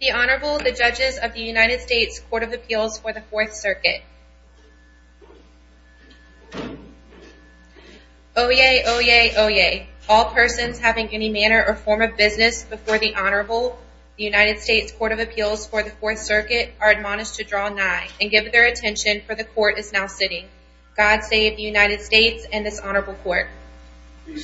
The Honorable, the Judges of the United States Court of Appeals for the Fourth Circuit. Oyez, oyez, oyez. All persons having any manner or form of business before the Honorable, the United States Court of Appeals for the Fourth Circuit, are admonished to draw nigh and give their attention, for the Court is now sitting. God save the United States and this Honorable Court. All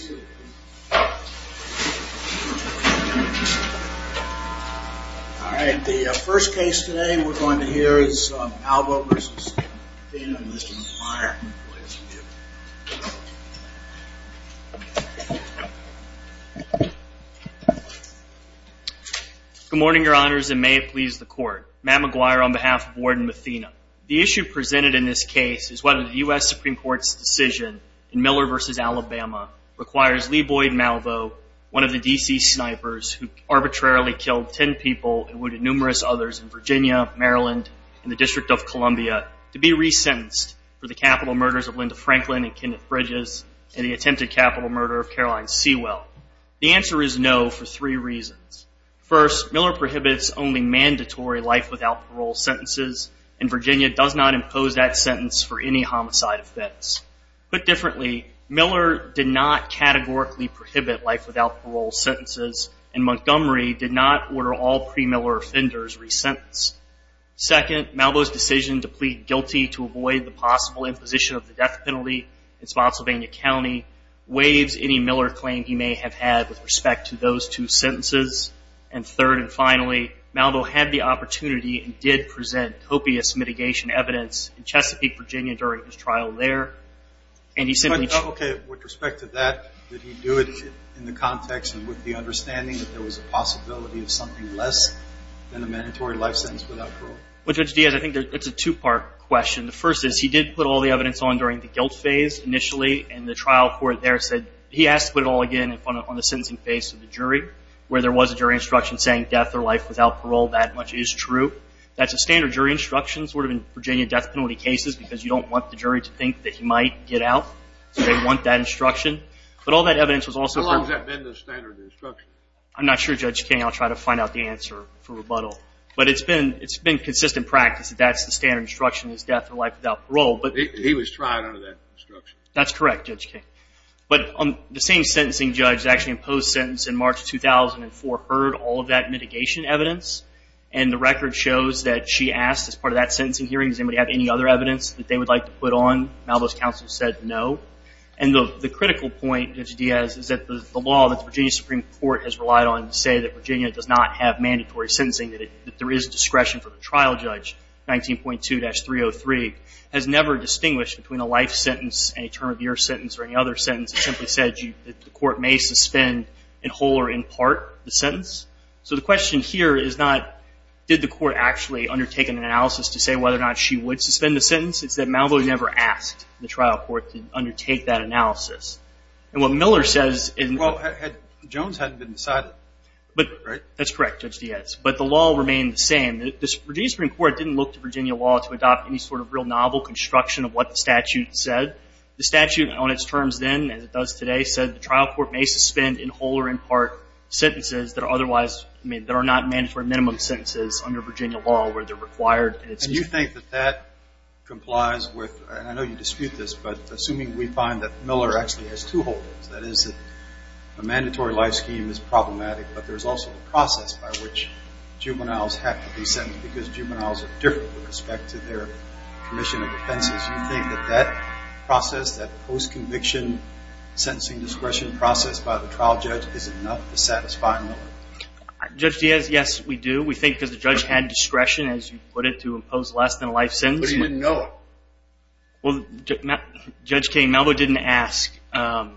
right, the first case today we're going to hear is Malvo v. Mathena and Mr. McGuire. Good morning, Your Honors, and may it please the Court. Matt McGuire on behalf of Warden Mathena. The issue presented in this case is whether the U.S. Supreme Court's decision in Miller v. Alabama requires Lee Boyd Malvo, one of the D.C. snipers who arbitrarily killed ten people and wounded numerous others in Virginia, Maryland, and the District of Columbia, to be resentenced for the capital murders of Linda Franklin and Kenneth Bridges and the attempted capital murder of Caroline Sewell. The answer is no for three reasons. First, Miller prohibits only mandatory life without parole sentences, and Virginia does not impose that sentence for any homicide offense. Put differently, Miller did not categorically prohibit life without parole sentences, and Montgomery did not order all pre-Miller offenders resentenced. Second, Malvo's decision to plead guilty to avoid the possible imposition of the death penalty in Spotsylvania County waives any Miller claim he may have had with respect to those two sentences. And third and finally, Malvo had the opportunity and did present copious mitigation evidence in Chesapeake, Virginia during his trial there. And he simply Okay. With respect to that, did he do it in the context and with the understanding that there was a possibility of something less than a mandatory life sentence without parole? Judge Diaz, I think it's a two-part question. The first is he did put all the evidence on during the guilt phase initially, and the trial court there said he asked to put it all again on the sentencing phase to the jury, where there was a jury instruction saying death or life without parole, that much is true. That's a standard jury instruction sort of in Virginia death penalty cases because you don't want the jury to think that he might get out. They want that instruction. But all that evidence was also How long has that been the standard instruction? I'm not sure, Judge King. I'll try to find out the answer for rebuttal. But it's been consistent practice that that's the standard instruction is death or life without parole. He was tried under that instruction. That's correct, Judge King. But the same sentencing judge that actually imposed sentence in March 2004 heard all of that mitigation evidence, and the record shows that she asked as part of that sentencing hearing, does anybody have any other evidence that they would like to put on? Malvo's counsel said no. And the critical point, Judge Diaz, is that the law that the Virginia Supreme Court has relied on to say that Virginia does not have mandatory sentencing, that there is discretion for the trial judge, 19.2-303, has never distinguished between a life sentence, any term of year sentence, or any other sentence. It simply said that the court may suspend in whole or in part the sentence. So the question here is not did the court actually undertake an analysis to say whether or not she would suspend the sentence. It's that Malvo never asked the trial court to undertake that analysis. And what Miller says in Well, Jones hadn't been decided, right? That's correct, Judge Diaz. But the law remained the same. The Virginia Supreme Court didn't look to Virginia law to adopt any sort of real novel construction of what the statute said. The statute on its terms then, as it does today, said the trial court may suspend in whole or in part sentences that are otherwise that are not mandatory minimum sentences under Virginia law where they're required. And you think that that complies with, and I know you dispute this, but assuming we find that Miller actually has two holdings, that is that a mandatory life scheme is problematic, but there's also the process by which juveniles have to be sentenced because juveniles are different with respect to their commission of defenses. Do you think that that process, that post-conviction sentencing discretion process by the trial judge, is enough to satisfy Miller? Judge Diaz, yes, we do. We think because the judge had discretion, as you put it, to impose less than a life sentence. But he didn't know it. Well, Judge King, Malvo didn't ask for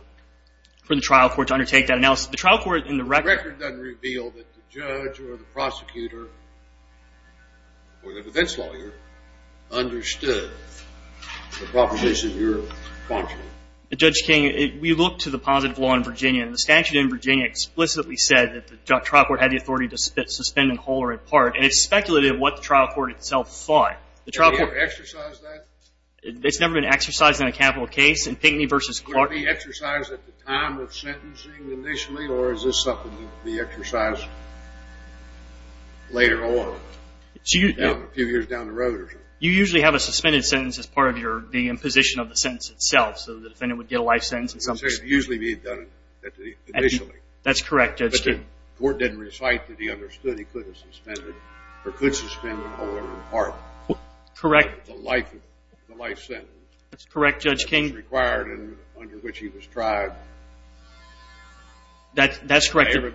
the trial court to undertake that analysis. The trial court in the record. The record doesn't reveal that the judge or the prosecutor or the defense lawyer understood the proposition you're prompting. Judge King, we looked to the positive law in Virginia, and the statute in Virginia explicitly said that the trial court had the authority to suspend in whole or in part, and it speculated what the trial court itself thought. Has the trial court exercised that? It's never been exercised in a capital case. Would it be exercised at the time of sentencing initially, or is this something that would be exercised later on, a few years down the road? You usually have a suspended sentence as part of the imposition of the sentence itself, so the defendant would get a life sentence. It's usually being done initially. That's correct, Judge King. But the court didn't recite that he understood he could suspend in whole or in part. Correct. The life sentence. That's correct, Judge King. That was required under which he was tried. That's correct. That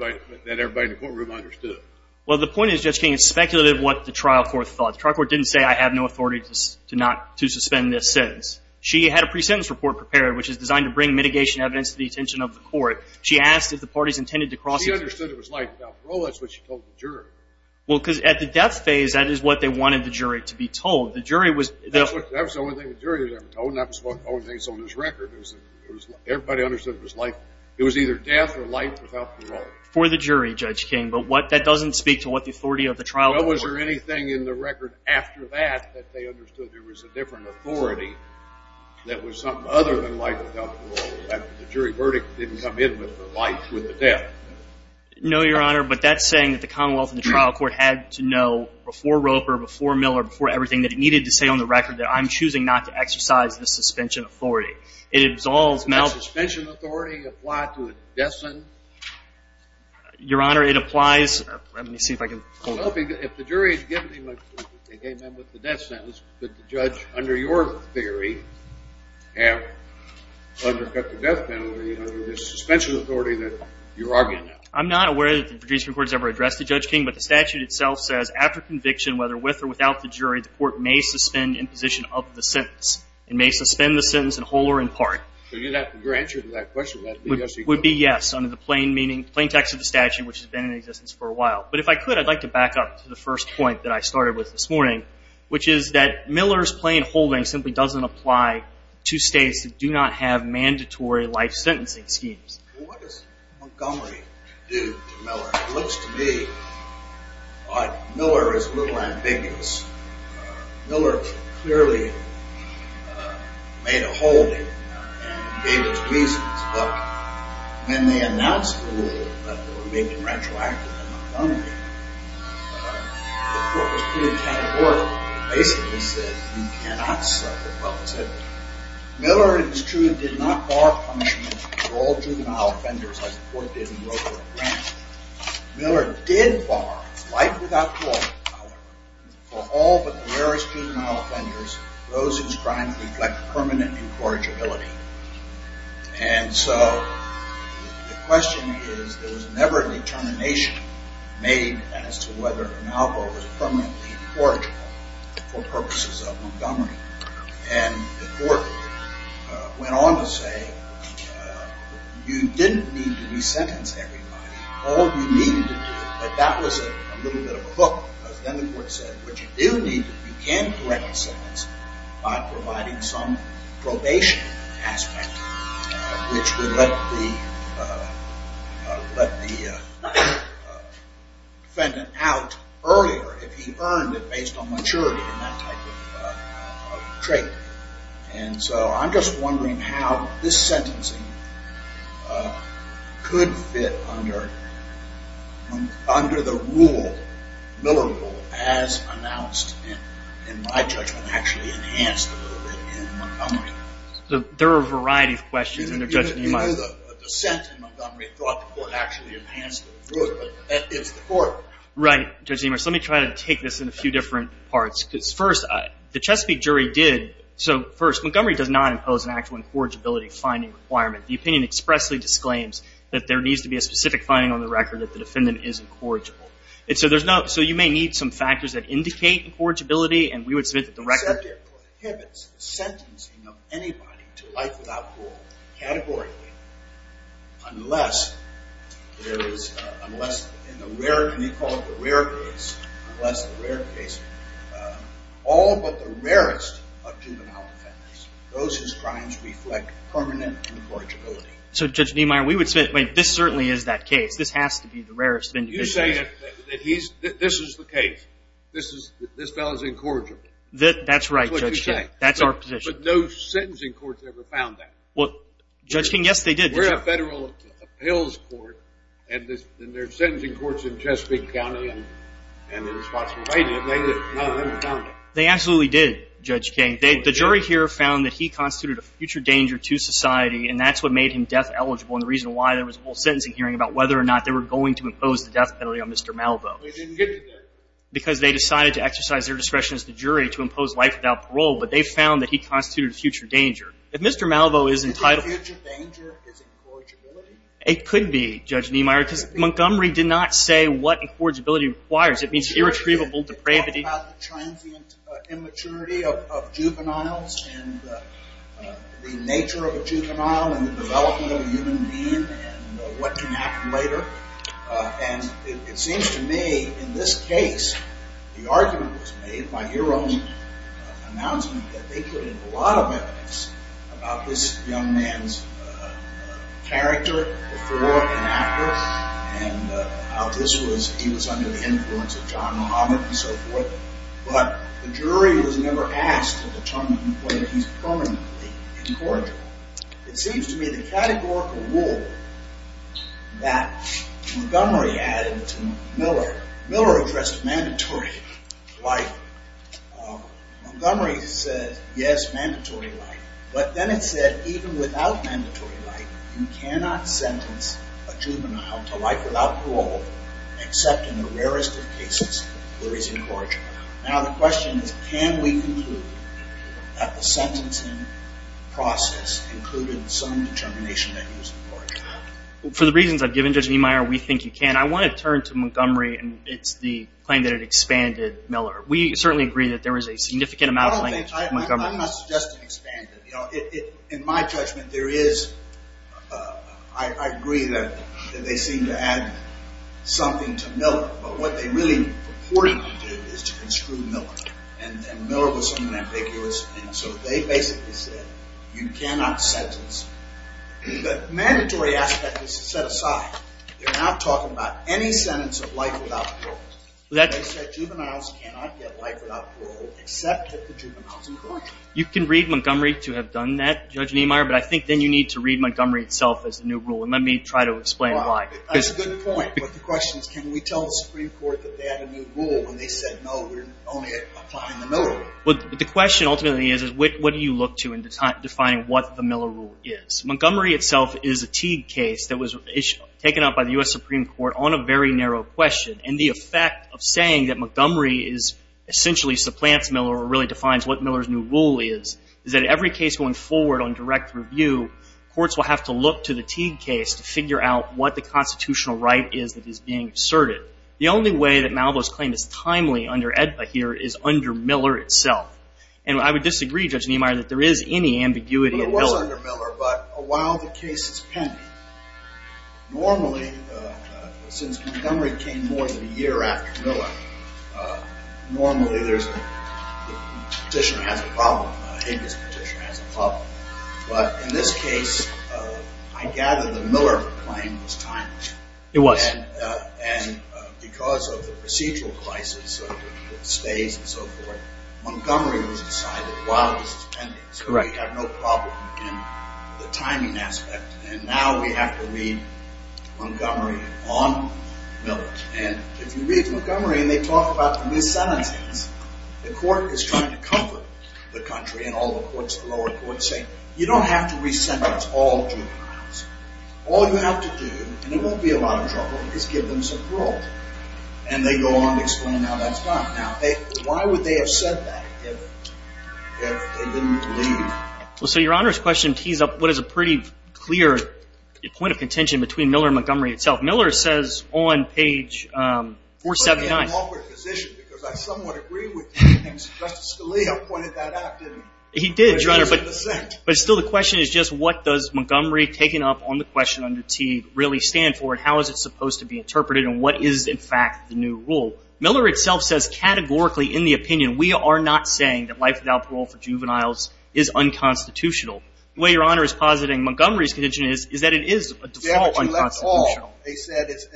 everybody in the courtroom understood. Well, the point is, Judge King, it's speculative what the trial court thought. The trial court didn't say, I have no authority to suspend this sentence. She had a pre-sentence report prepared, which is designed to bring mitigation evidence to the attention of the court. She asked if the parties intended to cross it. She understood it was life without parole. That's what she told the jury. Well, because at the death phase, that is what they wanted the jury to be told. That was the only thing the jury was ever told, and that was the only thing that was on his record. Everybody understood it was life. It was either death or life without parole. For the jury, Judge King. But that doesn't speak to what the authority of the trial court was. Well, was there anything in the record after that that they understood there was a different authority that was something other than life without parole, that the jury verdict didn't come in with the life, with the death? No, Your Honor, but that's saying that the Commonwealth and the trial court had to know before Roper, before Miller, before everything that it needed to say on the record that I'm choosing not to exercise the suspension authority. It absolves Melvin. Does the suspension authority apply to a death sentence? Your Honor, it applies. Let me see if I can pull it up. Well, if the jury had given him a death sentence, could the judge, under your theory, have undercut the death penalty under the suspension authority that you're arguing now? I'm not aware that the jury's report has ever addressed the Judge King, but the statute itself says after conviction, whether with or without the jury, the court may suspend imposition of the sentence. It may suspend the sentence in whole or in part. So your answer to that question would be yes, under the plain text of the statute, which has been in existence for a while. But if I could, I'd like to back up to the first point that I started with this morning, which is that Miller's plain holding simply doesn't apply to states that do not have mandatory life sentencing schemes. Well, what does Montgomery do to Miller? It looks to me like Miller is a little ambiguous. Miller clearly made a hold of him and gave his reasons. But when they announced the rule that there would be a contractual action in Montgomery, the court was pretty categorical. It basically said you cannot suffer public safety. Miller, it is true, did not bar punishment for all juvenile offenders like the court did in Wilbur and Grant. Miller did bar life without parole for all but the rarest juvenile offenders, those whose crimes reflect permanent incorrigibility. And so the question is, there was never a determination made as to whether Malvo was permanently incorrigible for purposes of Montgomery. And the court went on to say you didn't need to resentence everybody. All you needed to do, but that was a little bit of a hook, because then the court said what you do need to do, you can correct the sentence by providing some probation aspect, which would let the defendant out earlier if he earned it based on maturity and that type of trait. And so I'm just wondering how this sentencing could fit under the rule, Miller rule, as announced in my judgment actually enhanced in Montgomery. There are a variety of questions in your judgment. You know the dissent in Montgomery thought the court actually enhanced it, but that is the court. Right. So let me try to take this in a few different parts. First, the Chesapeake jury did, so first, Montgomery does not impose an actual incorrigibility finding requirement. The opinion expressly disclaims that there needs to be a specific finding on the record that the defendant is incorrigible. So you may need some factors that indicate incorrigibility, and we would submit that the record. It prohibits sentencing of anybody to life without parole categorically unless in the rare, can you call it the rare case, unless the rare case, all but the rarest of juvenile offenders. Those whose crimes reflect permanent incorrigibility. So, Judge Niemeyer, we would submit, wait, this certainly is that case. This has to be the rarest of individuals. You say that this is the case. This fellow is incorrigible. That's right, Judge King. That's our position. But no sentencing court has ever found that. Well, Judge King, yes, they did. We're a federal appeals court, and there are sentencing courts in Chesapeake County, and they're responsible for fighting it. None of them have found it. They absolutely did, Judge King. The jury here found that he constituted a future danger to society, and that's what made him death eligible, and the reason why there was a whole sentencing hearing about whether or not they were going to impose the death penalty on Mr. Malvo. They didn't get to that. Because they decided to exercise their discretion as the jury to impose life without parole, but they found that he constituted a future danger. If Mr. Malvo is entitled... A future danger is incorrigibility? It could be, Judge Niemeyer, because Montgomery did not say what incorrigibility requires. It means irretrievable depravity. They talked about the transient immaturity of juveniles and the nature of a juvenile and the development of a human being and what can happen later, and it seems to me, in this case, the argument was made by your own announcement that they couldn't have a lot of evidence about this young man's character before and after and how he was under the influence of John Muhammad and so forth, but the jury was never asked to determine whether he's permanently incorrigible. It seems to me the categorical rule that Montgomery added to Miller, Miller addressed mandatory life. Montgomery said, yes, mandatory life, but then it said even without mandatory life, you cannot sentence a juvenile to life without parole except in the rarest of cases where he's incorrigible. Now the question is, can we conclude that the sentencing process included some determination that he was incorrigible? For the reasons I've given, Judge Niemeyer, we think you can. I want to turn to Montgomery, and it's the claim that it expanded Miller. We certainly agree that there was a significant amount of language from Montgomery. I'm not suggesting it expanded. In my judgment, there is... I agree that they seem to add something to Miller, but what they really purportedly did is to construe Miller, and Miller was something ambiguous, and so they basically said, you cannot sentence... The mandatory aspect is set aside. They're not talking about any sentence of life without parole. They said juveniles cannot get life without parole except if the juvenile is incorrigible. You can read Montgomery to have done that, Judge Niemeyer, but I think then you need to read Montgomery itself as the new rule, and let me try to explain why. That's a good point, but the question is, can we tell the Supreme Court that they had a new rule when they said, no, we're only applying the Miller rule? The question ultimately is, what do you look to in defining what the Miller rule is? Montgomery itself is a Teague case that was taken up by the U.S. Supreme Court on a very narrow question, and the effect of saying that Montgomery essentially supplants Miller or really defines what Miller's new rule is is that every case going forward on direct review, courts will have to look to the Teague case to figure out what the constitutional right is that is being asserted. The only way that Malvo's claim is timely under AEDPA here is under Miller itself, and I would disagree, Judge Niemeyer, that there is any ambiguity in Miller. It was under Miller, but while the case is pending, normally, since Montgomery came more than a year after Miller, normally there's a petitioner has a problem, a Higgins petitioner has a problem, but in this case, I gather the Miller claim was timely. It was. And because of the procedural classes, the stays and so forth, Montgomery was decided while it was pending, so we have no problem in the timing aspect, and now we have to read Montgomery on Miller, and if you read Montgomery, and they talk about the mis-sentencings, the court is trying to comfort the country and all the courts, the lower courts say, you don't have to re-sentence all juveniles. All you have to do, and it won't be a lot of trouble, is give them some parole, and they go on to explain how that's done. Now, why would they have said that if they didn't believe? Well, so Your Honor's question tees up what is a pretty clear point of contention between Miller and Montgomery itself. Miller says on page 479... I'm in an awkward position because I somewhat agree with you, and Justice Scalia pointed that out to me. He did, Your Honor, but still the question is just what does Montgomery taking up on the question under T really stand for, and how is it supposed to be interpreted, and what is, in fact, the new rule? Miller itself says categorically in the opinion, we are not saying that life without parole for juveniles is unconstitutional. The way Your Honor is positing Montgomery's condition is that it is a default unconstitutional. They said it's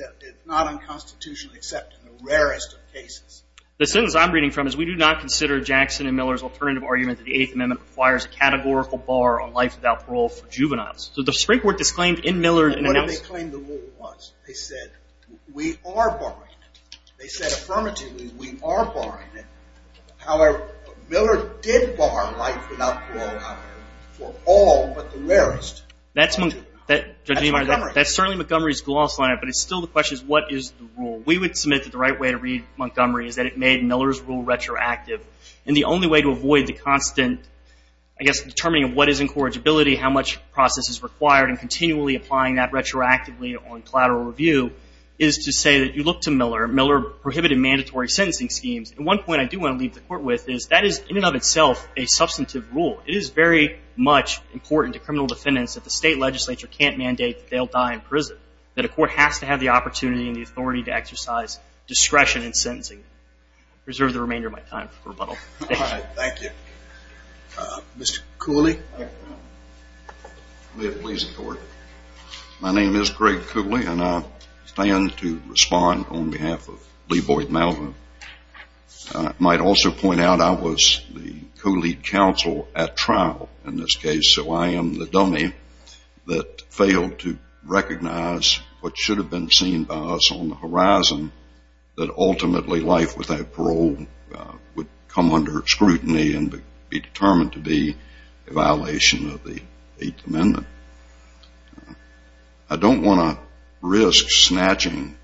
not unconstitutional, except in the rarest of cases. The sentence I'm reading from is we do not consider Jackson and Miller's alternative argument that the Eighth Amendment requires a categorical bar on life without parole for juveniles. So the Supreme Court disclaimed in Miller... What did they claim the rule was? They said we are barring it. They said affirmatively we are barring it. However, Miller did bar life without parole, Your Honor, for all but the rarest. That's Montgomery. That's certainly Montgomery's gloss line, but it's still the question is what is the rule? We would submit that the right way to read Montgomery is that it made Miller's rule retroactive, and the only way to avoid the constant, I guess, determining of what is incorrigibility, how much process is required, and continually applying that retroactively on collateral review is to say that you look to Miller, Miller prohibited mandatory sentencing schemes. And one point I do want to leave the Court with is that is in and of itself a substantive rule. It is very much important to criminal defendants that the state legislature can't mandate that they'll die in prison, that a court has to have the opportunity and the authority to exercise discretion in sentencing. I reserve the remainder of my time for rebuttal. All right. Thank you. Mr. Cooley. May it please the Court. My name is Greg Cooley, and I stand to respond on behalf of Lee Boyd Melvin. I might also point out I was the co-lead counsel at trial in this case, so I am the dummy that failed to recognize what should have been seen by us on the horizon, that ultimately life without parole would come under scrutiny and be determined to be a violation of the Eighth Amendment. I don't want to risk snatching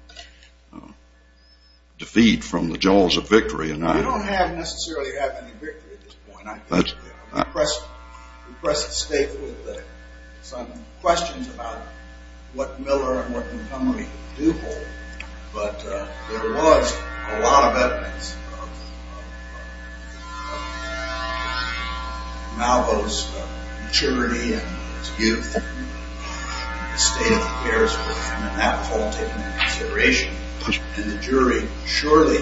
defeat from the jaws of victory. You don't necessarily have any victory at this point. We pressed the state with some questions about what Miller and what Montgomery do hold, but there was a lot of evidence of Malvo's maturity and his youth and his state of affairs were, in that fall, taken into consideration, and the jury surely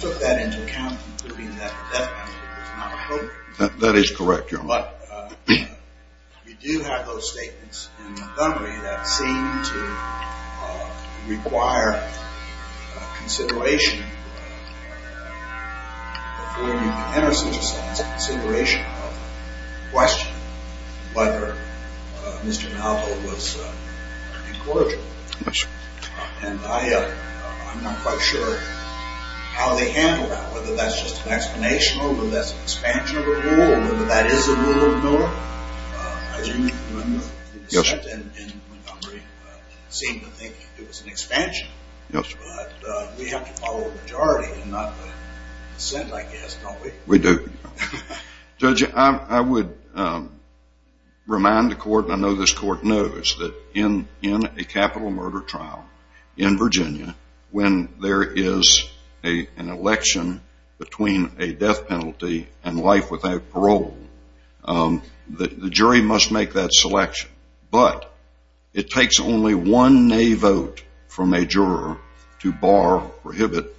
took that into account, including that the death penalty was not a hope. That is correct, Your Honor. But we do have those statements in Montgomery that seem to require consideration before you can enter such a consideration of questioning whether Mr. Malvo was incorrigible. Yes, Your Honor. And I'm not quite sure how they handled that, whether that's just an explanation or whether that's an expansion of a rule or whether that is a rule of Miller. As you may remember, the district in Montgomery seemed to think it was an expansion, but we have to follow the majority and not the dissent, I guess, don't we? We do. Judge, I would remind the court, and I know this court knows, that in a capital murder trial in Virginia, when there is an election between a death penalty and life without parole, the jury must make that selection, but it takes only one nay vote from a juror to bar or prohibit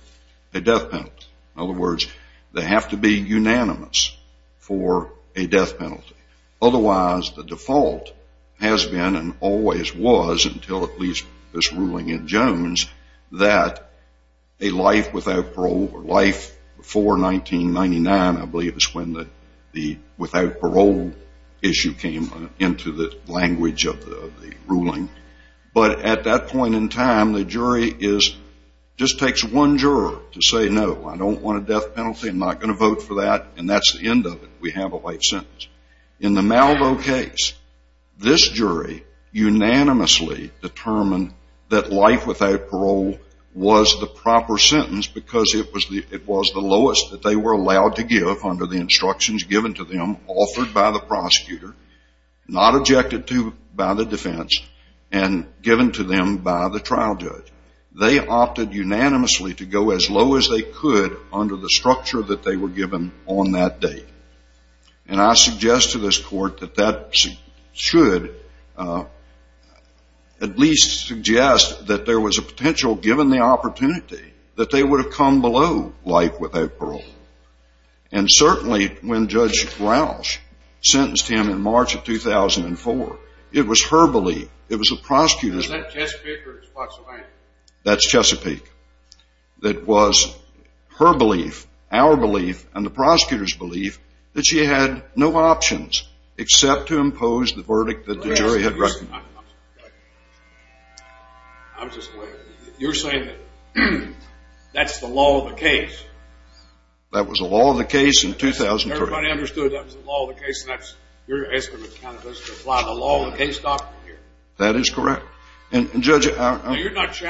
a death penalty. In other words, they have to be unanimous for a death penalty. Otherwise, the default has been and always was, until at least this ruling in Jones, that a life without parole or life before 1999, I believe is when the without parole issue came into the language of the ruling. But at that point in time, the jury just takes one juror to say, no, I don't want a death penalty, I'm not going to vote for that, and that's the end of it. We have a life sentence. In the Malvo case, this jury unanimously determined that life without parole was the proper sentence because it was the lowest that they were allowed to give under the instructions given to them, offered by the prosecutor, not objected to by the defense, and given to them by the trial judge. They opted unanimously to go as low as they could under the structure that they were given on that day. And I suggest to this court that that should at least suggest that there was a potential, given the opportunity, that they would have come below life without parole. And certainly when Judge Rausch sentenced him in March of 2004, it was her belief, it was the prosecutor's belief. Was that Chesapeake or Spotsylvania? That's Chesapeake. That she had no options except to impose the verdict that the jury had written. I'm just going to wait. You're saying that that's the law of the case. That was the law of the case in 2003. Everybody understood that was the law of the case, and that's your estimate kind of doesn't apply to the law of the case doctrine here. That is correct. And, Judge, I'm... You're not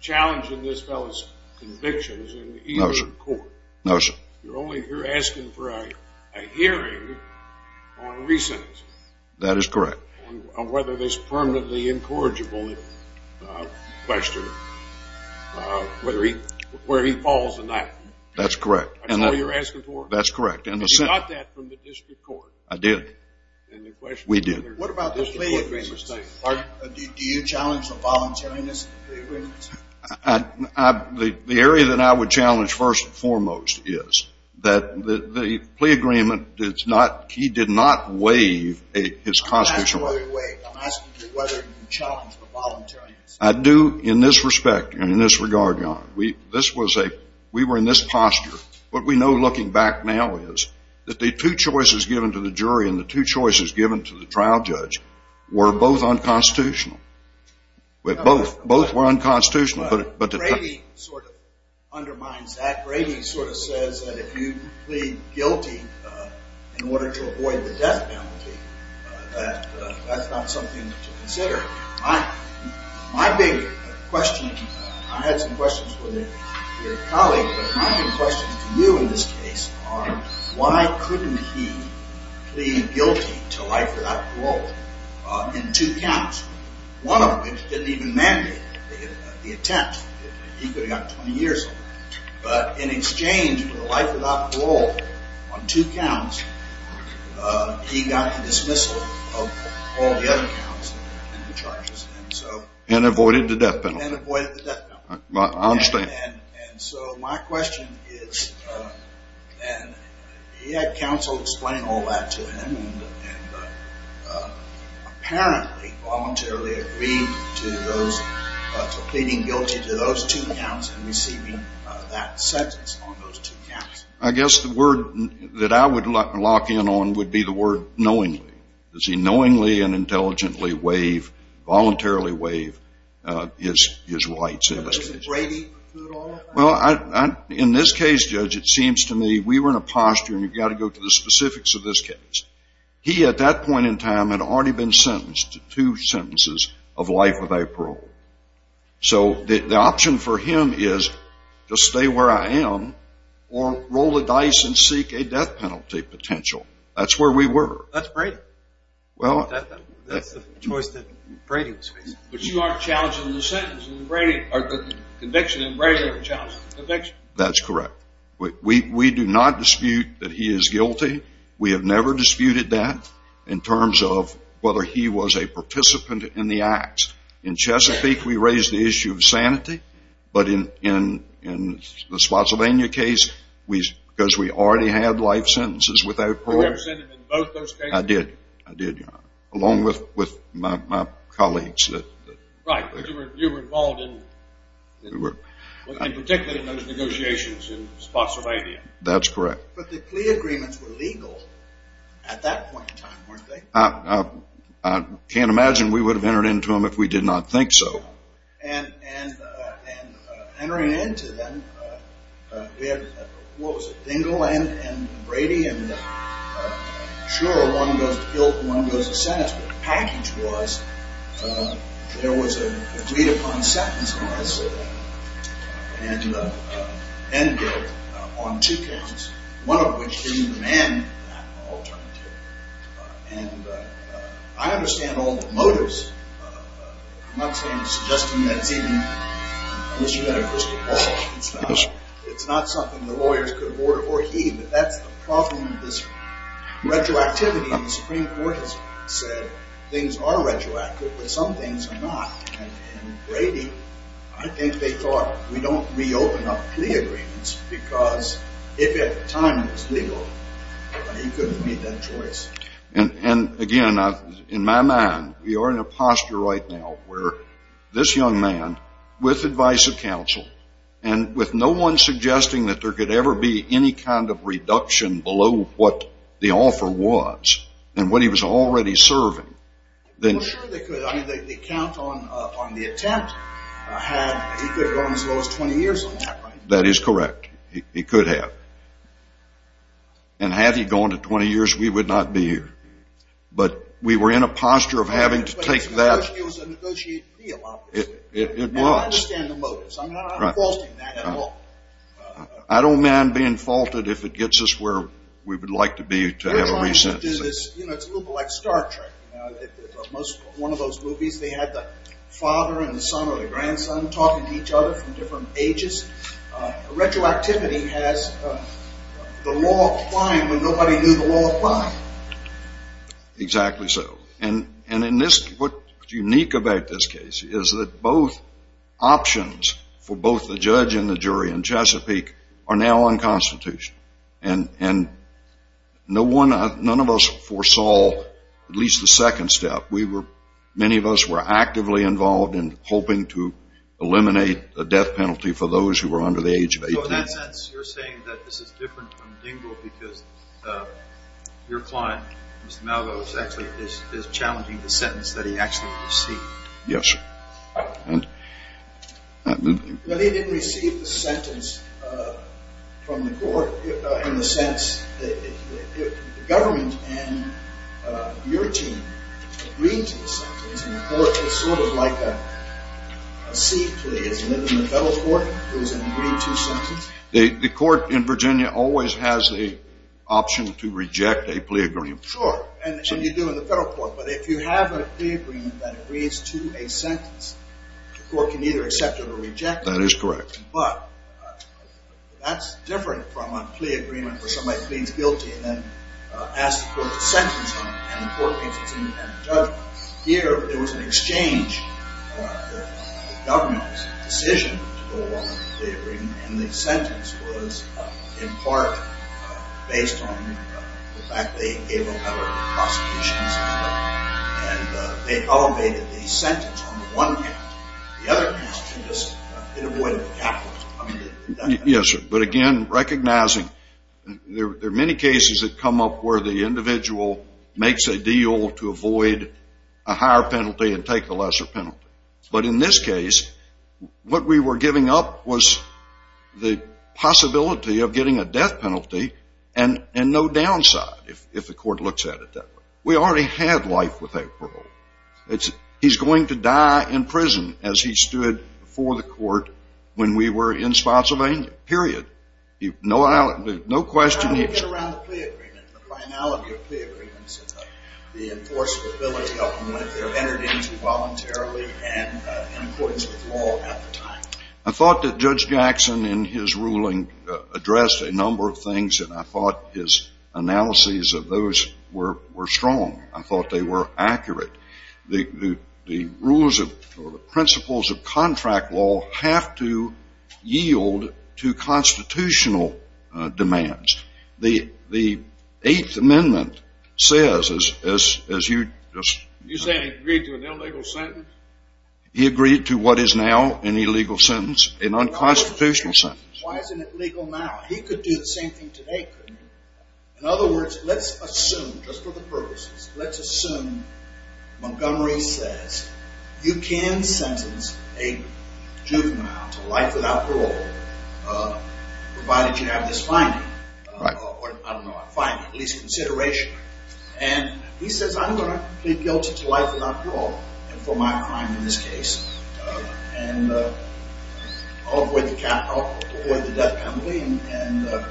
challenging this fellow's convictions in the Eastern Court. No, sir. You're asking for a hearing on a recent... That is correct. ...on whether this permanently incorrigible question, where he falls in that. That's correct. That's all you're asking for? That's correct. And you got that from the district court. I did. And the question... We did. What about the lay awareness thing? Do you challenge the voluntariness? The area that I would challenge first and foremost is that the plea agreement, he did not waive his constitutional right. I'm asking you whether you challenge the voluntariness. I do in this respect and in this regard, Your Honor. We were in this posture. What we know looking back now is that the two choices given to the jury and the two choices given to the trial judge were both unconstitutional. Both were unconstitutional. Brady sort of undermines that. Brady sort of says that if you plead guilty in order to avoid the death penalty, that that's not something to consider. My big question, I had some questions with your colleague, but my big questions to you in this case are, why couldn't he plead guilty to life without parole in two counts, one of which didn't even mandate the attempt? He could have gotten 20 years. But in exchange for the life without parole on two counts, he got the dismissal of all the other counts and the charges. And avoided the death penalty. And avoided the death penalty. I understand. And so my question is, and he had counsel explain all that to him, and apparently voluntarily agreed to those, to pleading guilty to those two counts and receiving that sentence on those two counts. I guess the word that I would lock in on would be the word knowingly. Does he knowingly and intelligently waive, voluntarily waive his rights? Well, in this case, Judge, it seems to me we were in a posture, and you've got to go to the specifics of this case. He, at that point in time, had already been sentenced to two sentences of life without parole. So the option for him is to stay where I am or roll the dice and seek a death penalty potential. That's where we were. That's Brady. That's the choice that Brady was facing. But you aren't challenging the conviction in Brady or challenging the conviction? That's correct. We do not dispute that he is guilty. We have never disputed that in terms of whether he was a participant in the acts. In Chesapeake, we raised the issue of sanity. But in the Swaziland case, because we already had life sentences without parole. You never sent him in both those cases? I did. Along with my colleagues. Right. You were involved in particular in those negotiations in Spotsylvania. That's correct. But the plea agreements were legal at that point in time, weren't they? I can't imagine we would have entered into them if we did not think so. And entering into them, we had, what was it, Dingell and Brady? And sure, one goes to guilt and one goes to sentence. But the package was there was a plea upon sentence. And then on two counts, one of which didn't demand that alternative. And I understand all the motives. I'm not suggesting that's even an issue that I personally follow. It's not something the lawyers could order or heed. But that's the problem with this retroactivity. The Supreme Court has said things are retroactive, but some things are not. And with Brady, I think they thought, we don't reopen our plea agreements. Because if at the time it was legal, he could have made that choice. And, again, in my mind, we are in a posture right now where this young man, with advice of counsel, and with no one suggesting that there could ever be any kind of reduction below what the offer was and what he was already serving. Well, sure they could. I mean, they count on the attempt. He could have gone as low as 20 years on that, right? That is correct. He could have. And had he gone to 20 years, we would not be here. But we were in a posture of having to take that. But it was a negotiated deal, obviously. It was. And I understand the motives. I'm not faulting that at all. I don't mind being faulted if it gets us where we would like to be to have a recess. It's a little bit like Star Trek. One of those movies, they had the father and the son or the grandson talking to each other from different ages. Retroactivity has the law of time when nobody knew the law of time. Exactly so. And what's unique about this case is that both options for both the judge and the jury in Chesapeake are now unconstitutional. And none of us foresaw at least the second step. Many of us were actively involved in hoping to eliminate the death penalty for those who were under the age of 18. So in that sense, you're saying that this is different from Dingell because your client, Mr. Malveaux, actually is challenging the sentence that he actually received. Yes. Well, he didn't receive the sentence from the court in the sense that the government and your team agreed to the sentence. It's sort of like a sea plea. It's in the federal court. There's an agreed to sentence. The court in Virginia always has the option to reject a plea agreement. Sure. And you do in the federal court. But if you have a plea agreement that agrees to a sentence, the court can either accept it or reject it. That is correct. But that's different from a plea agreement where somebody pleads guilty and then asks the court to sentence them and the court makes its independent judgment. Here, there was an exchange. The government's decision to go along with the plea agreement and the sentence was in part based on the fact they gave a letter of prosecution and they elevated the sentence on the one hand. The other hand, it avoided the capital punishment. Yes, sir. But again, recognizing there are many cases that come up where the individual makes a deal to avoid a higher penalty and take a lesser penalty. But in this case, what we were giving up was the possibility of getting a death penalty and no downside, if the court looks at it that way. We already had life with April. He's going to die in prison as he stood before the court when we were in Spotsylvania, period. No question. How do you get around the plea agreement, the primality of plea agreements, the enforceability of them when they're entered into voluntarily and in accordance with law at the time? I thought that Judge Jackson in his ruling addressed a number of things and I thought his analyses of those were strong. I thought they were accurate. The rules or the principles of contract law have to yield to constitutional demands. The Eighth Amendment says, as you just… You're saying he agreed to an illegal sentence? He agreed to what is now an illegal sentence, a nonconstitutional sentence. Why isn't it legal now? He could do the same thing today, couldn't he? In other words, let's assume, just for the purposes, let's assume Montgomery says, you can sentence a juvenile to life without parole provided you have this finding. I don't know, a finding, at least consideration. And he says, I'm going to plead guilty to life without parole and for my crime in this case. And I'll avoid the death penalty and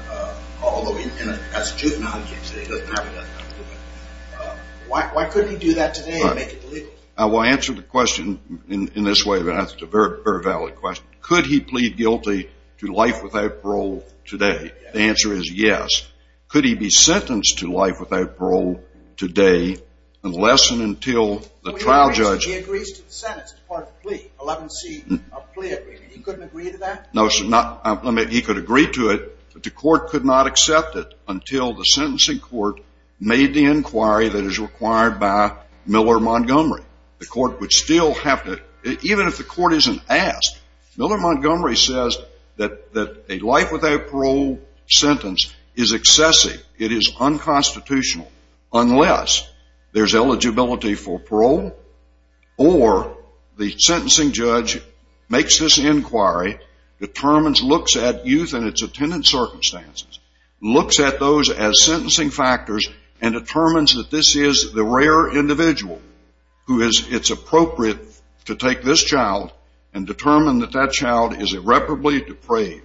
although he's a juvenile, he doesn't have a death penalty. Why couldn't he do that today and make it illegal? I will answer the question in this way, but that's a very valid question. Could he plead guilty to life without parole today? The answer is yes. Could he be sentenced to life without parole today unless and until the trial judge… He couldn't agree to that? No, he could agree to it, but the court could not accept it until the sentencing court made the inquiry that is required by Miller Montgomery. The court would still have to, even if the court isn't asked, Miller Montgomery says that a life without parole sentence is excessive, it is unconstitutional, unless there's eligibility for parole or the sentencing judge makes this inquiry, determines, looks at youth and its attendant circumstances, looks at those as sentencing factors and determines that this is the rare individual who it's appropriate to take this child and determine that that child is irreparably depraved.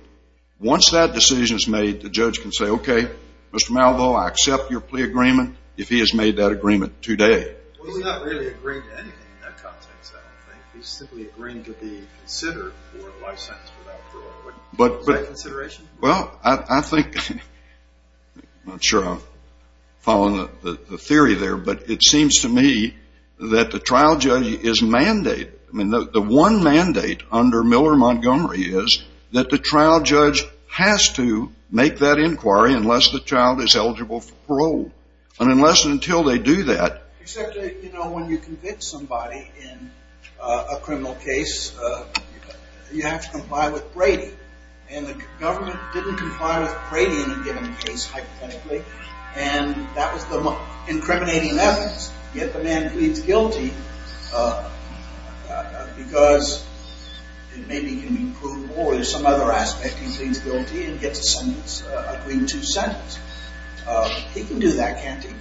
Once that decision is made, the judge can say, okay, Mr. Malvo, I accept your plea agreement if he has made that agreement today. Well, he's not really agreeing to anything in that context, I don't think. He's simply agreeing to be considered for a life sentence without parole. Is that a consideration? Well, I think, I'm not sure I'm following the theory there, but it seems to me that the trial judge's mandate, I mean, the one mandate under Miller Montgomery is that the trial judge has to make that inquiry unless the child is eligible for parole, and unless and until they do that. Except, you know, when you convict somebody in a criminal case, you have to comply with Brady, and the government didn't comply with Brady in a given case, hypothetically, and that was the incriminating evidence. Yet the man pleads guilty because it maybe can be proved, or there's some other aspect. He pleads guilty and gets a sentence, agreeing to sentence. He can do that, can't he?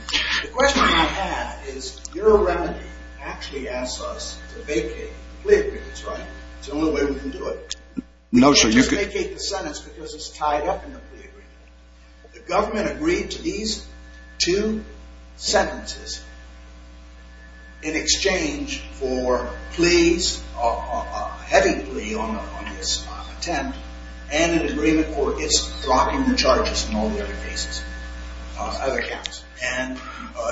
The question I have is, your remedy actually asks us to vacate the plea agreements, right? It's the only way we can do it. No, sir. Just vacate the sentence because it's tied up in the plea agreement. The government agreed to these two sentences in exchange for pleas, a heavy plea on this attempt, and an agreement for its blocking the charges in all the other cases, other counts. And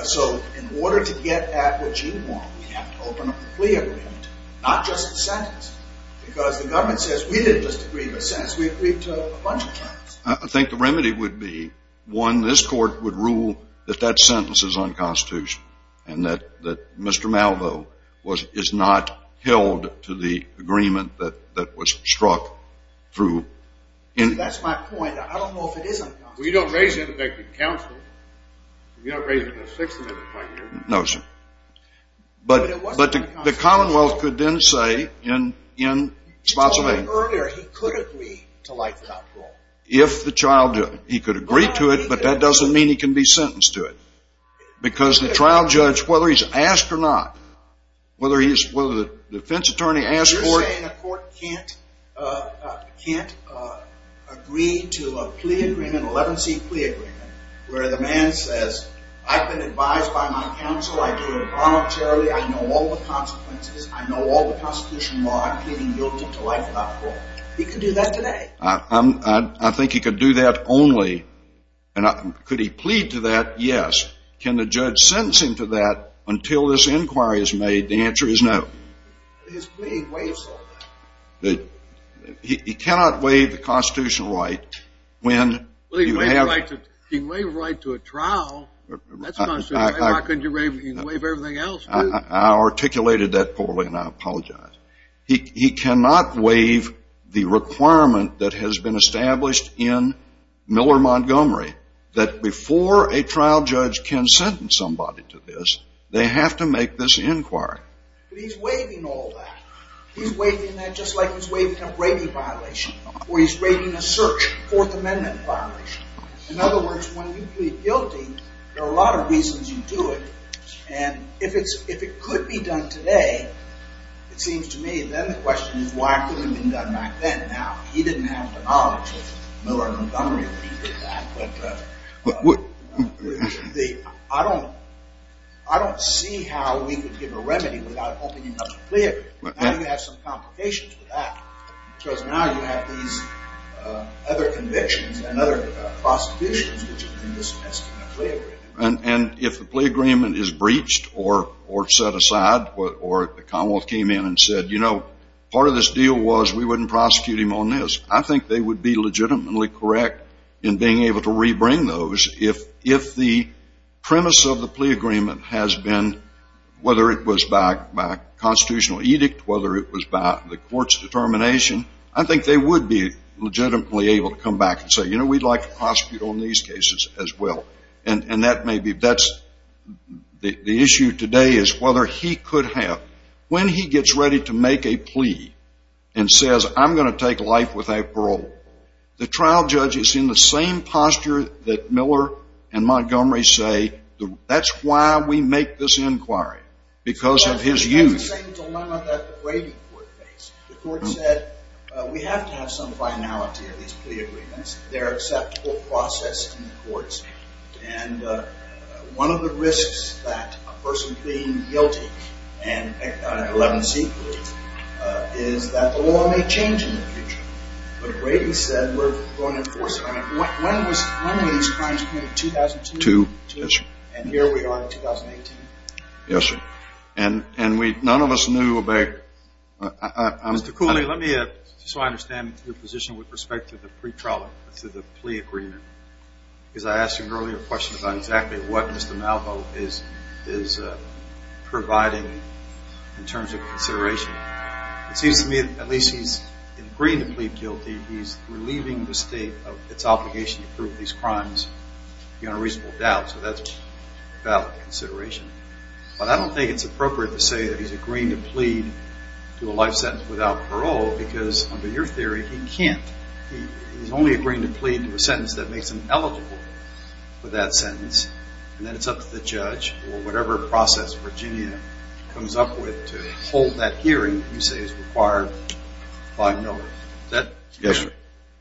so in order to get at what you want, we have to open up the plea agreement, not just the sentence, because the government says, we didn't just agree to a sentence, we agreed to a bunch of things. I think the remedy would be, one, this court would rule that that sentence is unconstitutional and that Mr. Malvo is not held to the agreement that was struck through. See, that's my point. I don't know if it is unconstitutional. Well, you don't raise it in a vectored council. You don't raise it in a six-amendment plea agreement. No, sir. But the Commonwealth could then say, in sponsorship. Earlier, he could agree to life without parole. If the child did. He could agree to it, but that doesn't mean he can be sentenced to it. Because the trial judge, whether he's asked or not, whether the defense attorney asked for it. You're saying a court can't agree to a plea agreement, an 11-C plea agreement, where the man says, I've been advised by my counsel, I do it voluntarily, I know all the consequences, I know all the constitutional law, I'm pleading guilty to life without parole. He could do that today. I think he could do that only. Could he plead to that? Yes. Can the judge sentence him to that until this inquiry is made? The answer is no. His plea waives all that. He cannot waive the constitutional right when you have. He can waive a right to a trial. That's constitutional. Why couldn't he waive everything else, too? I articulated that poorly, and I apologize. He cannot waive the requirement that has been established in Miller-Montgomery that before a trial judge can sentence somebody to this, they have to make this inquiry. But he's waiving all that. He's waiving that just like he's waiving a rape violation or he's waiving a search, Fourth Amendment violation. In other words, when you plead guilty, there are a lot of reasons you do it. And if it could be done today, it seems to me then the question is why couldn't it have been done back then? Now, he didn't have the knowledge of Miller-Montgomery when he did that. But I don't see how we could give a remedy without opening up the plea agreement. Now you have some complications with that because now you have these other convictions and other prosecutions which have been dismissed in the plea agreement. And if the plea agreement is breached or set aside or the Commonwealth came in and said, you know, part of this deal was we wouldn't prosecute him on this, I think they would be legitimately correct in being able to rebring those. If the premise of the plea agreement has been whether it was by constitutional edict, whether it was by the court's determination, I think they would be legitimately able to come back and say, you know, we'd like to prosecute on these cases as well. And that may be the issue today is whether he could have. When he gets ready to make a plea and says, I'm going to take life without parole, the trial judge is in the same posture that Miller and Montgomery say that's why we make this inquiry, because of his use. The court said we have to have some finality of these plea agreements. They're acceptable process in the courts. And one of the risks that a person being guilty and 11C is that the law may change in the future. But Brady said we're going to enforce it. When were these crimes committed? 2002. And here we are in 2018. Yes, sir. And none of us knew about it. Mr. Cooley, let me, just so I understand your position with respect to the pre-trial, to the plea agreement, because I asked you an earlier question about exactly what Mr. Malvo is providing in terms of consideration. It seems to me at least he's agreeing to plead guilty. He's relieving the state of its obligation to prove these crimes beyond a reasonable doubt. So that's valid consideration. But I don't think it's appropriate to say that he's agreeing to plead to a life sentence without parole, because under your theory he can't. He's only agreeing to plead to a sentence that makes him eligible for that sentence, and then it's up to the judge or whatever process Virginia comes up with to hold that hearing, you say is required by Miller. Yes, sir.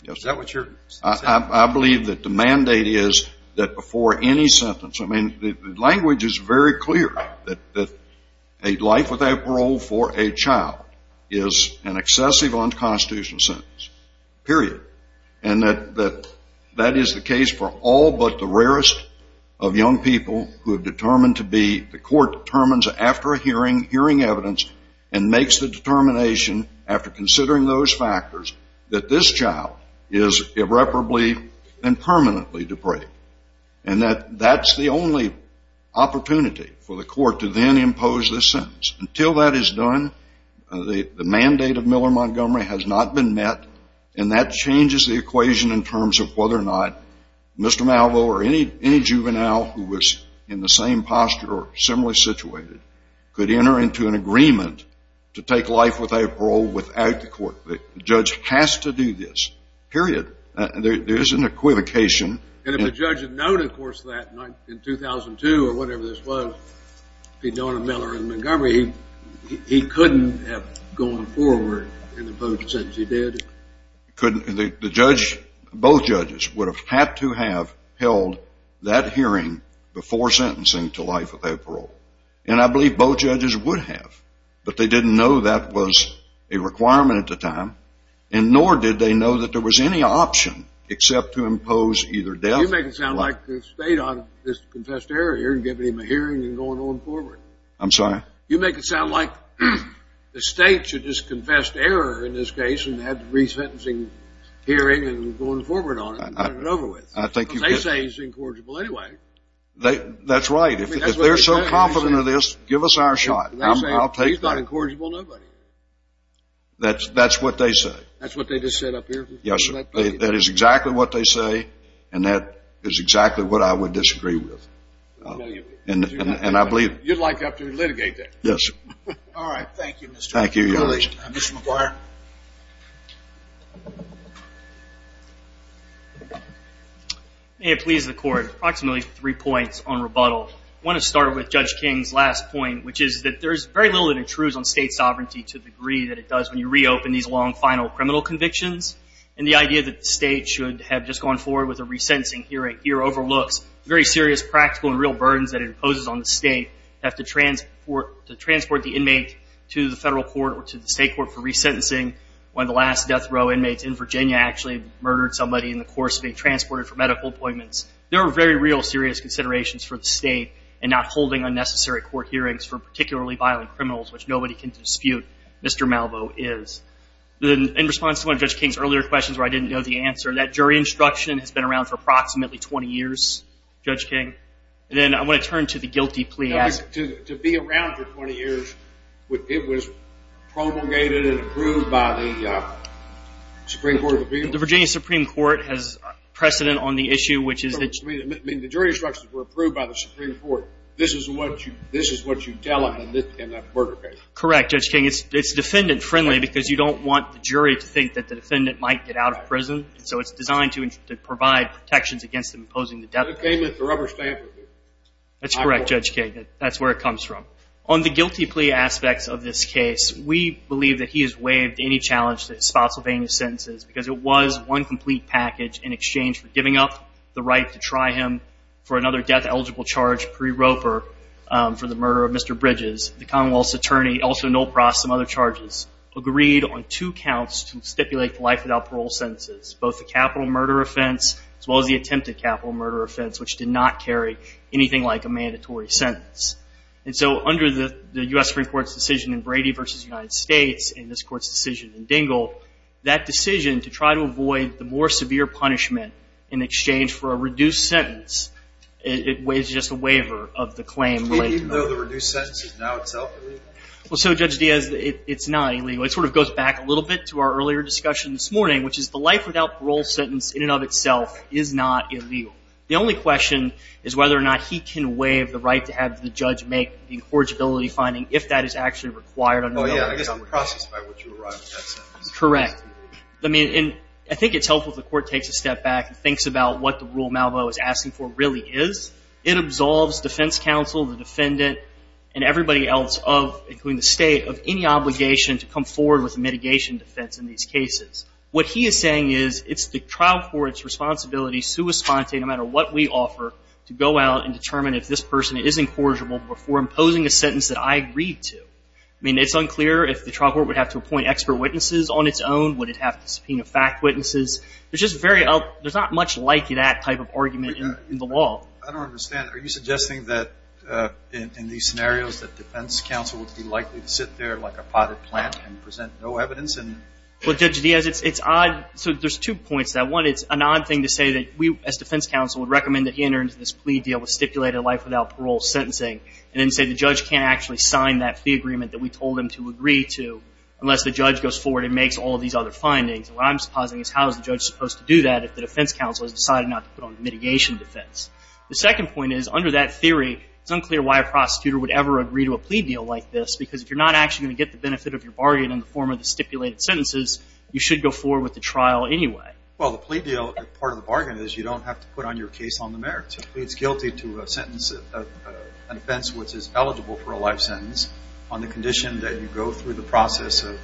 Is that what you're saying? I believe that the mandate is that before any sentence, I mean the language is very clear that a life without parole for a child is an excessive unconstitutional sentence, period. And that is the case for all but the rarest of young people who are determined to be, the court determines after hearing evidence and makes the determination after considering those factors, that this child is irreparably and permanently depraved. And that's the only opportunity for the court to then impose this sentence. Until that is done, the mandate of Miller Montgomery has not been met, and that changes the equation in terms of whether or not Mr. Malvo or any juvenile who was in the same posture or similarly situated could enter into an agreement to take life without parole without the court. The judge has to do this, period. There is an equivocation. And if the judge had known, of course, that in 2002 or whatever this was, if he'd known of Miller Montgomery, he couldn't have gone forward and imposed the sentence. He did? He couldn't. Both judges would have had to have held that hearing before sentencing to life without parole. And I believe both judges would have, but they didn't know that was a requirement at the time, and nor did they know that there was any option except to impose either death or life. You make it sound like the state ought to just confess to error here and give him a hearing and go on forward. I'm sorry? You make it sound like the state should just confess to error in this case and have the resentencing hearing and go on forward on it and turn it over with. They say he's incorrigible anyway. That's right. If they're so confident of this, give us our shot. He's not incorrigible to nobody. That's what they say. That's what they just said up here? Yes, sir. That is exactly what they say, and that is exactly what I would disagree with. And I believe it. You'd like to have to litigate that? Yes, sir. All right. Thank you, Mr. McGuire. Thank you, Your Honor. Mr. McGuire. May it please the Court. Approximately three points on rebuttal. I want to start with Judge King's last point, which is that there's very little that intrudes on state sovereignty to the degree that it does when you reopen these long final criminal convictions. And the idea that the state should have just gone forward with a resentencing hearing here overlooks very serious practical and real burdens that it imposes on the state to have to transport the inmate to the federal court or to the state court for resentencing. One of the last death row inmates in Virginia actually murdered somebody in the course of being transported for medical appointments. There are very real serious considerations for the state in not holding unnecessary court hearings for particularly violent criminals, which nobody can dispute Mr. Malvo is. In response to one of Judge King's earlier questions where I didn't know the answer, that jury instruction has been around for approximately 20 years, Judge King. And then I want to turn to the guilty plea. To be around for 20 years, it was promulgated and approved by the Supreme Court of Appeals. The Virginia Supreme Court has precedent on the issue, which is that The jury instructions were approved by the Supreme Court. This is what you tell them in that murder case. Correct, Judge King. It's defendant-friendly because you don't want the jury to think that the defendant might get out of prison, so it's designed to provide protections against them imposing the death penalty. It came at the rubber stamp of it. That's correct, Judge King. That's where it comes from. On the guilty plea aspects of this case, we believe that he has waived any challenge to his Spotsylvania sentences because it was one complete package in exchange for giving up the right to try him for another death-eligible charge pre-roper for the murder of Mr. Bridges. The Commonwealth's attorney, also Noel Pross and other charges, agreed on two counts to stipulate the life without parole sentences, both the capital murder offense as well as the attempted capital murder offense, which did not carry anything like a mandatory sentence. And so under the U.S. Supreme Court's decision in Brady v. United States and this Court's decision in Dingell, that decision to try to avoid the more severe punishment in exchange for a reduced sentence is just a waiver of the claim. Even though the reduced sentence is now itself illegal? Well, so, Judge Diaz, it's not illegal. It sort of goes back a little bit to our earlier discussion this morning, which is the life without parole sentence in and of itself is not illegal. The only question is whether or not he can waive the right to have the judge make the incorrigibility finding if that is actually required under the law. Yeah, I guess I'm processed by what you were writing in that sentence. Correct. I mean, and I think it's helpful if the Court takes a step back and thinks about what the rule Malvo is asking for really is. It absolves defense counsel, the defendant, and everybody else of, including the state, of any obligation to come forward with a mitigation defense in these cases. What he is saying is it's the trial court's responsibility, sua sponte, no matter what we offer, to go out and determine if this person is incorrigible before imposing a sentence that I agreed to. I mean, it's unclear if the trial court would have to appoint expert witnesses on its own. Would it have to subpoena fact witnesses? There's not much like that type of argument in the law. I don't understand. Are you suggesting that in these scenarios that defense counsel would be likely to sit there like a potted plant and present no evidence? Well, Judge Diaz, it's odd. So there's two points to that. One, it's an odd thing to say that we as defense counsel would recommend that he enter into this plea deal with stipulated life without parole sentencing and then say the judge can't actually sign that plea agreement that we told him to agree to unless the judge goes forward and makes all these other findings. What I'm supposing is how is the judge supposed to do that if the defense counsel has decided not to put on the mitigation defense? The second point is, under that theory, it's unclear why a prosecutor would ever agree to a plea deal like this because if you're not actually going to get the benefit of your bargain in the form of the stipulated sentences, you should go forward with the trial anyway. Well, the plea deal, part of the bargain is you don't have to put on your case on the merits. It pleads guilty to a sentence of an offense which is eligible for a life sentence on the condition that you go through the process of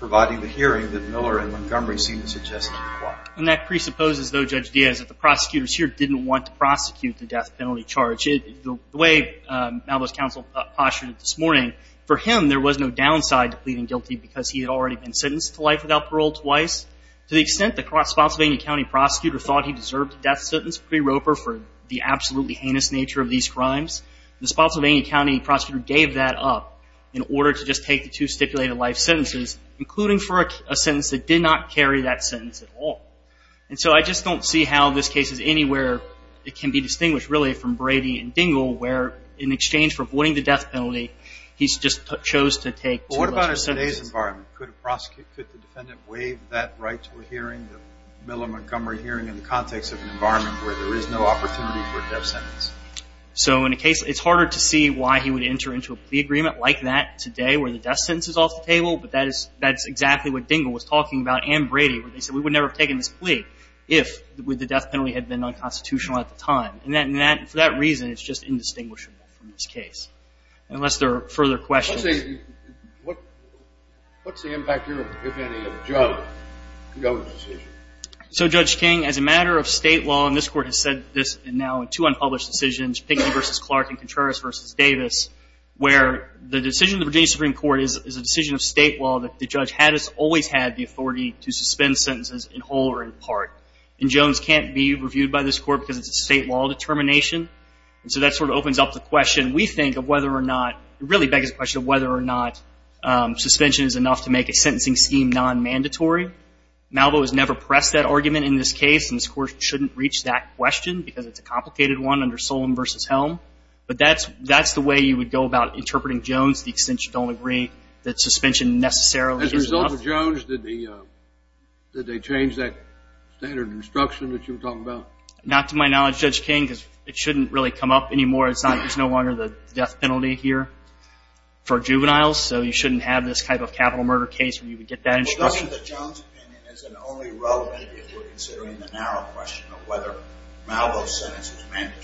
providing the hearing that Miller and Montgomery seem to suggest is required. And that presupposes, though, Judge Diaz, that the prosecutors here didn't want to prosecute the death penalty charge. The way Malvo's counsel postulated this morning, for him, there was no downside to pleading guilty because he had already been sentenced to life without parole twice. To the extent that a Spotsylvania County prosecutor thought he deserved a death sentence pre-roper for the absolutely heinous nature of these crimes, the Spotsylvania County prosecutor gave that up in order to just take the two stipulated life sentences, including for a sentence that did not carry that sentence at all. And so I just don't see how this case is anywhere it can be distinguished, really, from Brady and Dingell where, in exchange for avoiding the death penalty, he just chose to take two lesser sentences. But what about in today's environment? Could the defendant waive that right to a hearing, the Miller-Montgomery hearing, in the context of an environment where there is no opportunity for a death sentence? So in a case, it's harder to see why he would enter into a plea agreement like that today where the death sentence is off the table, but that's exactly what Dingell was talking about and Brady, where they said we would never have taken this plea if the death penalty had been unconstitutional at the time. And for that reason, it's just indistinguishable from this case, unless there are further questions. What's the impact here, if any, of Jones' decision? So, Judge King, as a matter of state law, and this Court has said this now in two unpublished decisions, Pinkney v. Clark and Contreras v. Davis, where the decision of the Virginia Supreme Court is a decision of state law that the judge has always had the authority to suspend sentences in whole or in part. And Jones can't be reviewed by this Court because it's a state law determination. And so that sort of opens up the question, we think, of whether or not, it really begs the question of whether or not suspension is enough to make a sentencing scheme non-mandatory. Malvo has never pressed that argument in this case, and this Court shouldn't reach that question because it's a complicated one under Solemn v. Helm. But that's the way you would go about interpreting Jones, the extent you don't agree that suspension necessarily is enough. As a result of Jones, did they change that standard of instruction that you were talking about? Not to my knowledge, Judge King, because it shouldn't really come up anymore. It's no longer the death penalty here for juveniles, so you shouldn't have this type of capital murder case where you would get that instruction. Well, doesn't the Jones opinion, as in only relevant if we're considering the narrow question of whether Malvo's sentence is mandatory?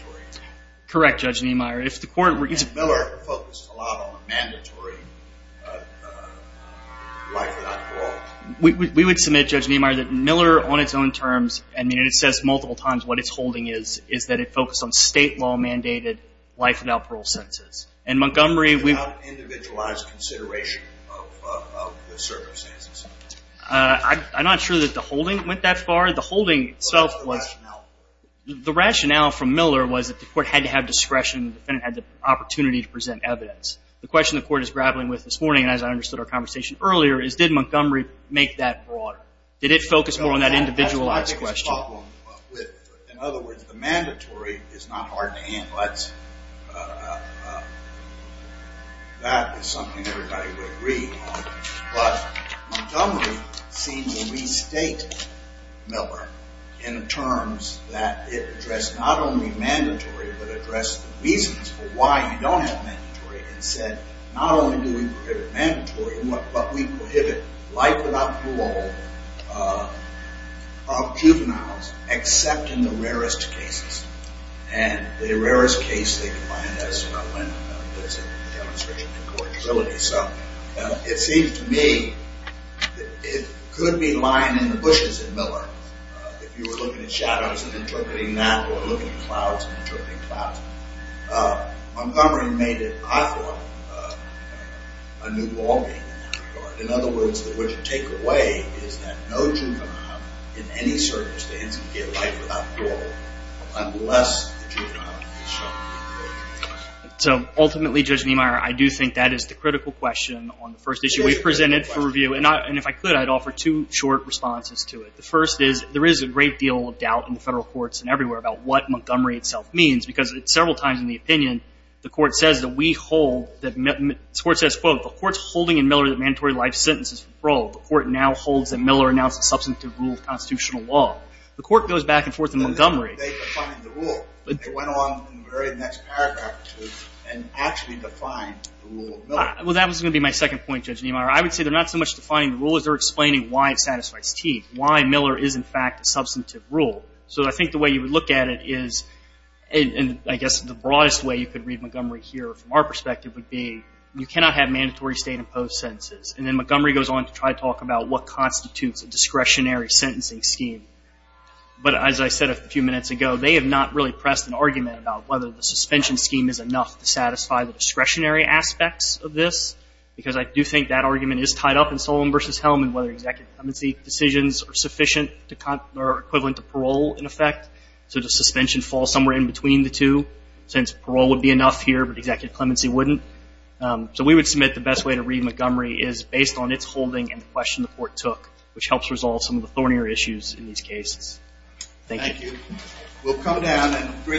Correct, Judge Niemeyer. And Miller focused a lot on the mandatory life without parole. We would submit, Judge Niemeyer, that Miller on its own terms, and it says multiple times what its holding is, is that it focused on state law mandated life without parole sentences. And Montgomery, we've Without individualized consideration of the circumstances. I'm not sure that the holding went that far. The holding itself was The rationale The rationale from Miller was that the court had to have discretion, the defendant had the opportunity to present evidence. The question the court is grappling with this morning, as I understood our conversation earlier, is did Montgomery make that broader? Did it focus more on that individualized question? In other words, the mandatory is not hard to handle. That is something everybody would agree on. But Montgomery seemed to restate Miller in terms that it addressed not only mandatory, but addressed the reasons for why you don't have mandatory and said not only do we prohibit mandatory, but we prohibit life without parole of juveniles, except in the rarest cases. And the rarest case they defined as, when it's a demonstration of incorrigibility. So it seems to me it could be lying in the bushes in Miller. If you were looking at shadows and interpreting that, or looking at clouds and interpreting clouds. Montgomery made it, I thought, a new ballgame in that regard. In other words, what you take away is that no juvenile in any circumstance can get life without parole, unless the juvenile is shown incorrigibility. So ultimately, Judge Niemeyer, I do think that is the critical question on the first issue we presented for review. And if I could, I'd offer two short responses to it. The first is there is a great deal of doubt in the federal courts and everywhere about what Montgomery itself means, because several times in the opinion, the court says that we hold, the court says, quote, the court's holding in Miller that mandatory life sentence is with parole. The court now holds that Miller announced a substantive rule of constitutional law. The court goes back and forth in Montgomery. They defined the rule. They went on in the very next paragraph to actually define the rule of Miller. Well, that was going to be my second point, Judge Niemeyer. I would say they're not so much defining the rule as they're explaining why it satisfies Teague. Why Miller is, in fact, a substantive rule. So I think the way you would look at it is, and I guess the broadest way you could read Montgomery here from our perspective would be you cannot have mandatory state-imposed sentences. And then Montgomery goes on to try to talk about what constitutes a discretionary sentencing scheme. But as I said a few minutes ago, they have not really pressed an argument about whether the suspension scheme is enough to satisfy the discretionary aspects of this, because I do think that argument is tied up in Solemn v. Hellman whether executive decisions are sufficient or equivalent to parole, in effect. So does suspension fall somewhere in between the two? Since parole would be enough here, but executive clemency wouldn't. So we would submit the best way to read Montgomery is based on its holding and the question the court took, which helps resolve some of the thornier issues in these cases. Thank you. Thank you.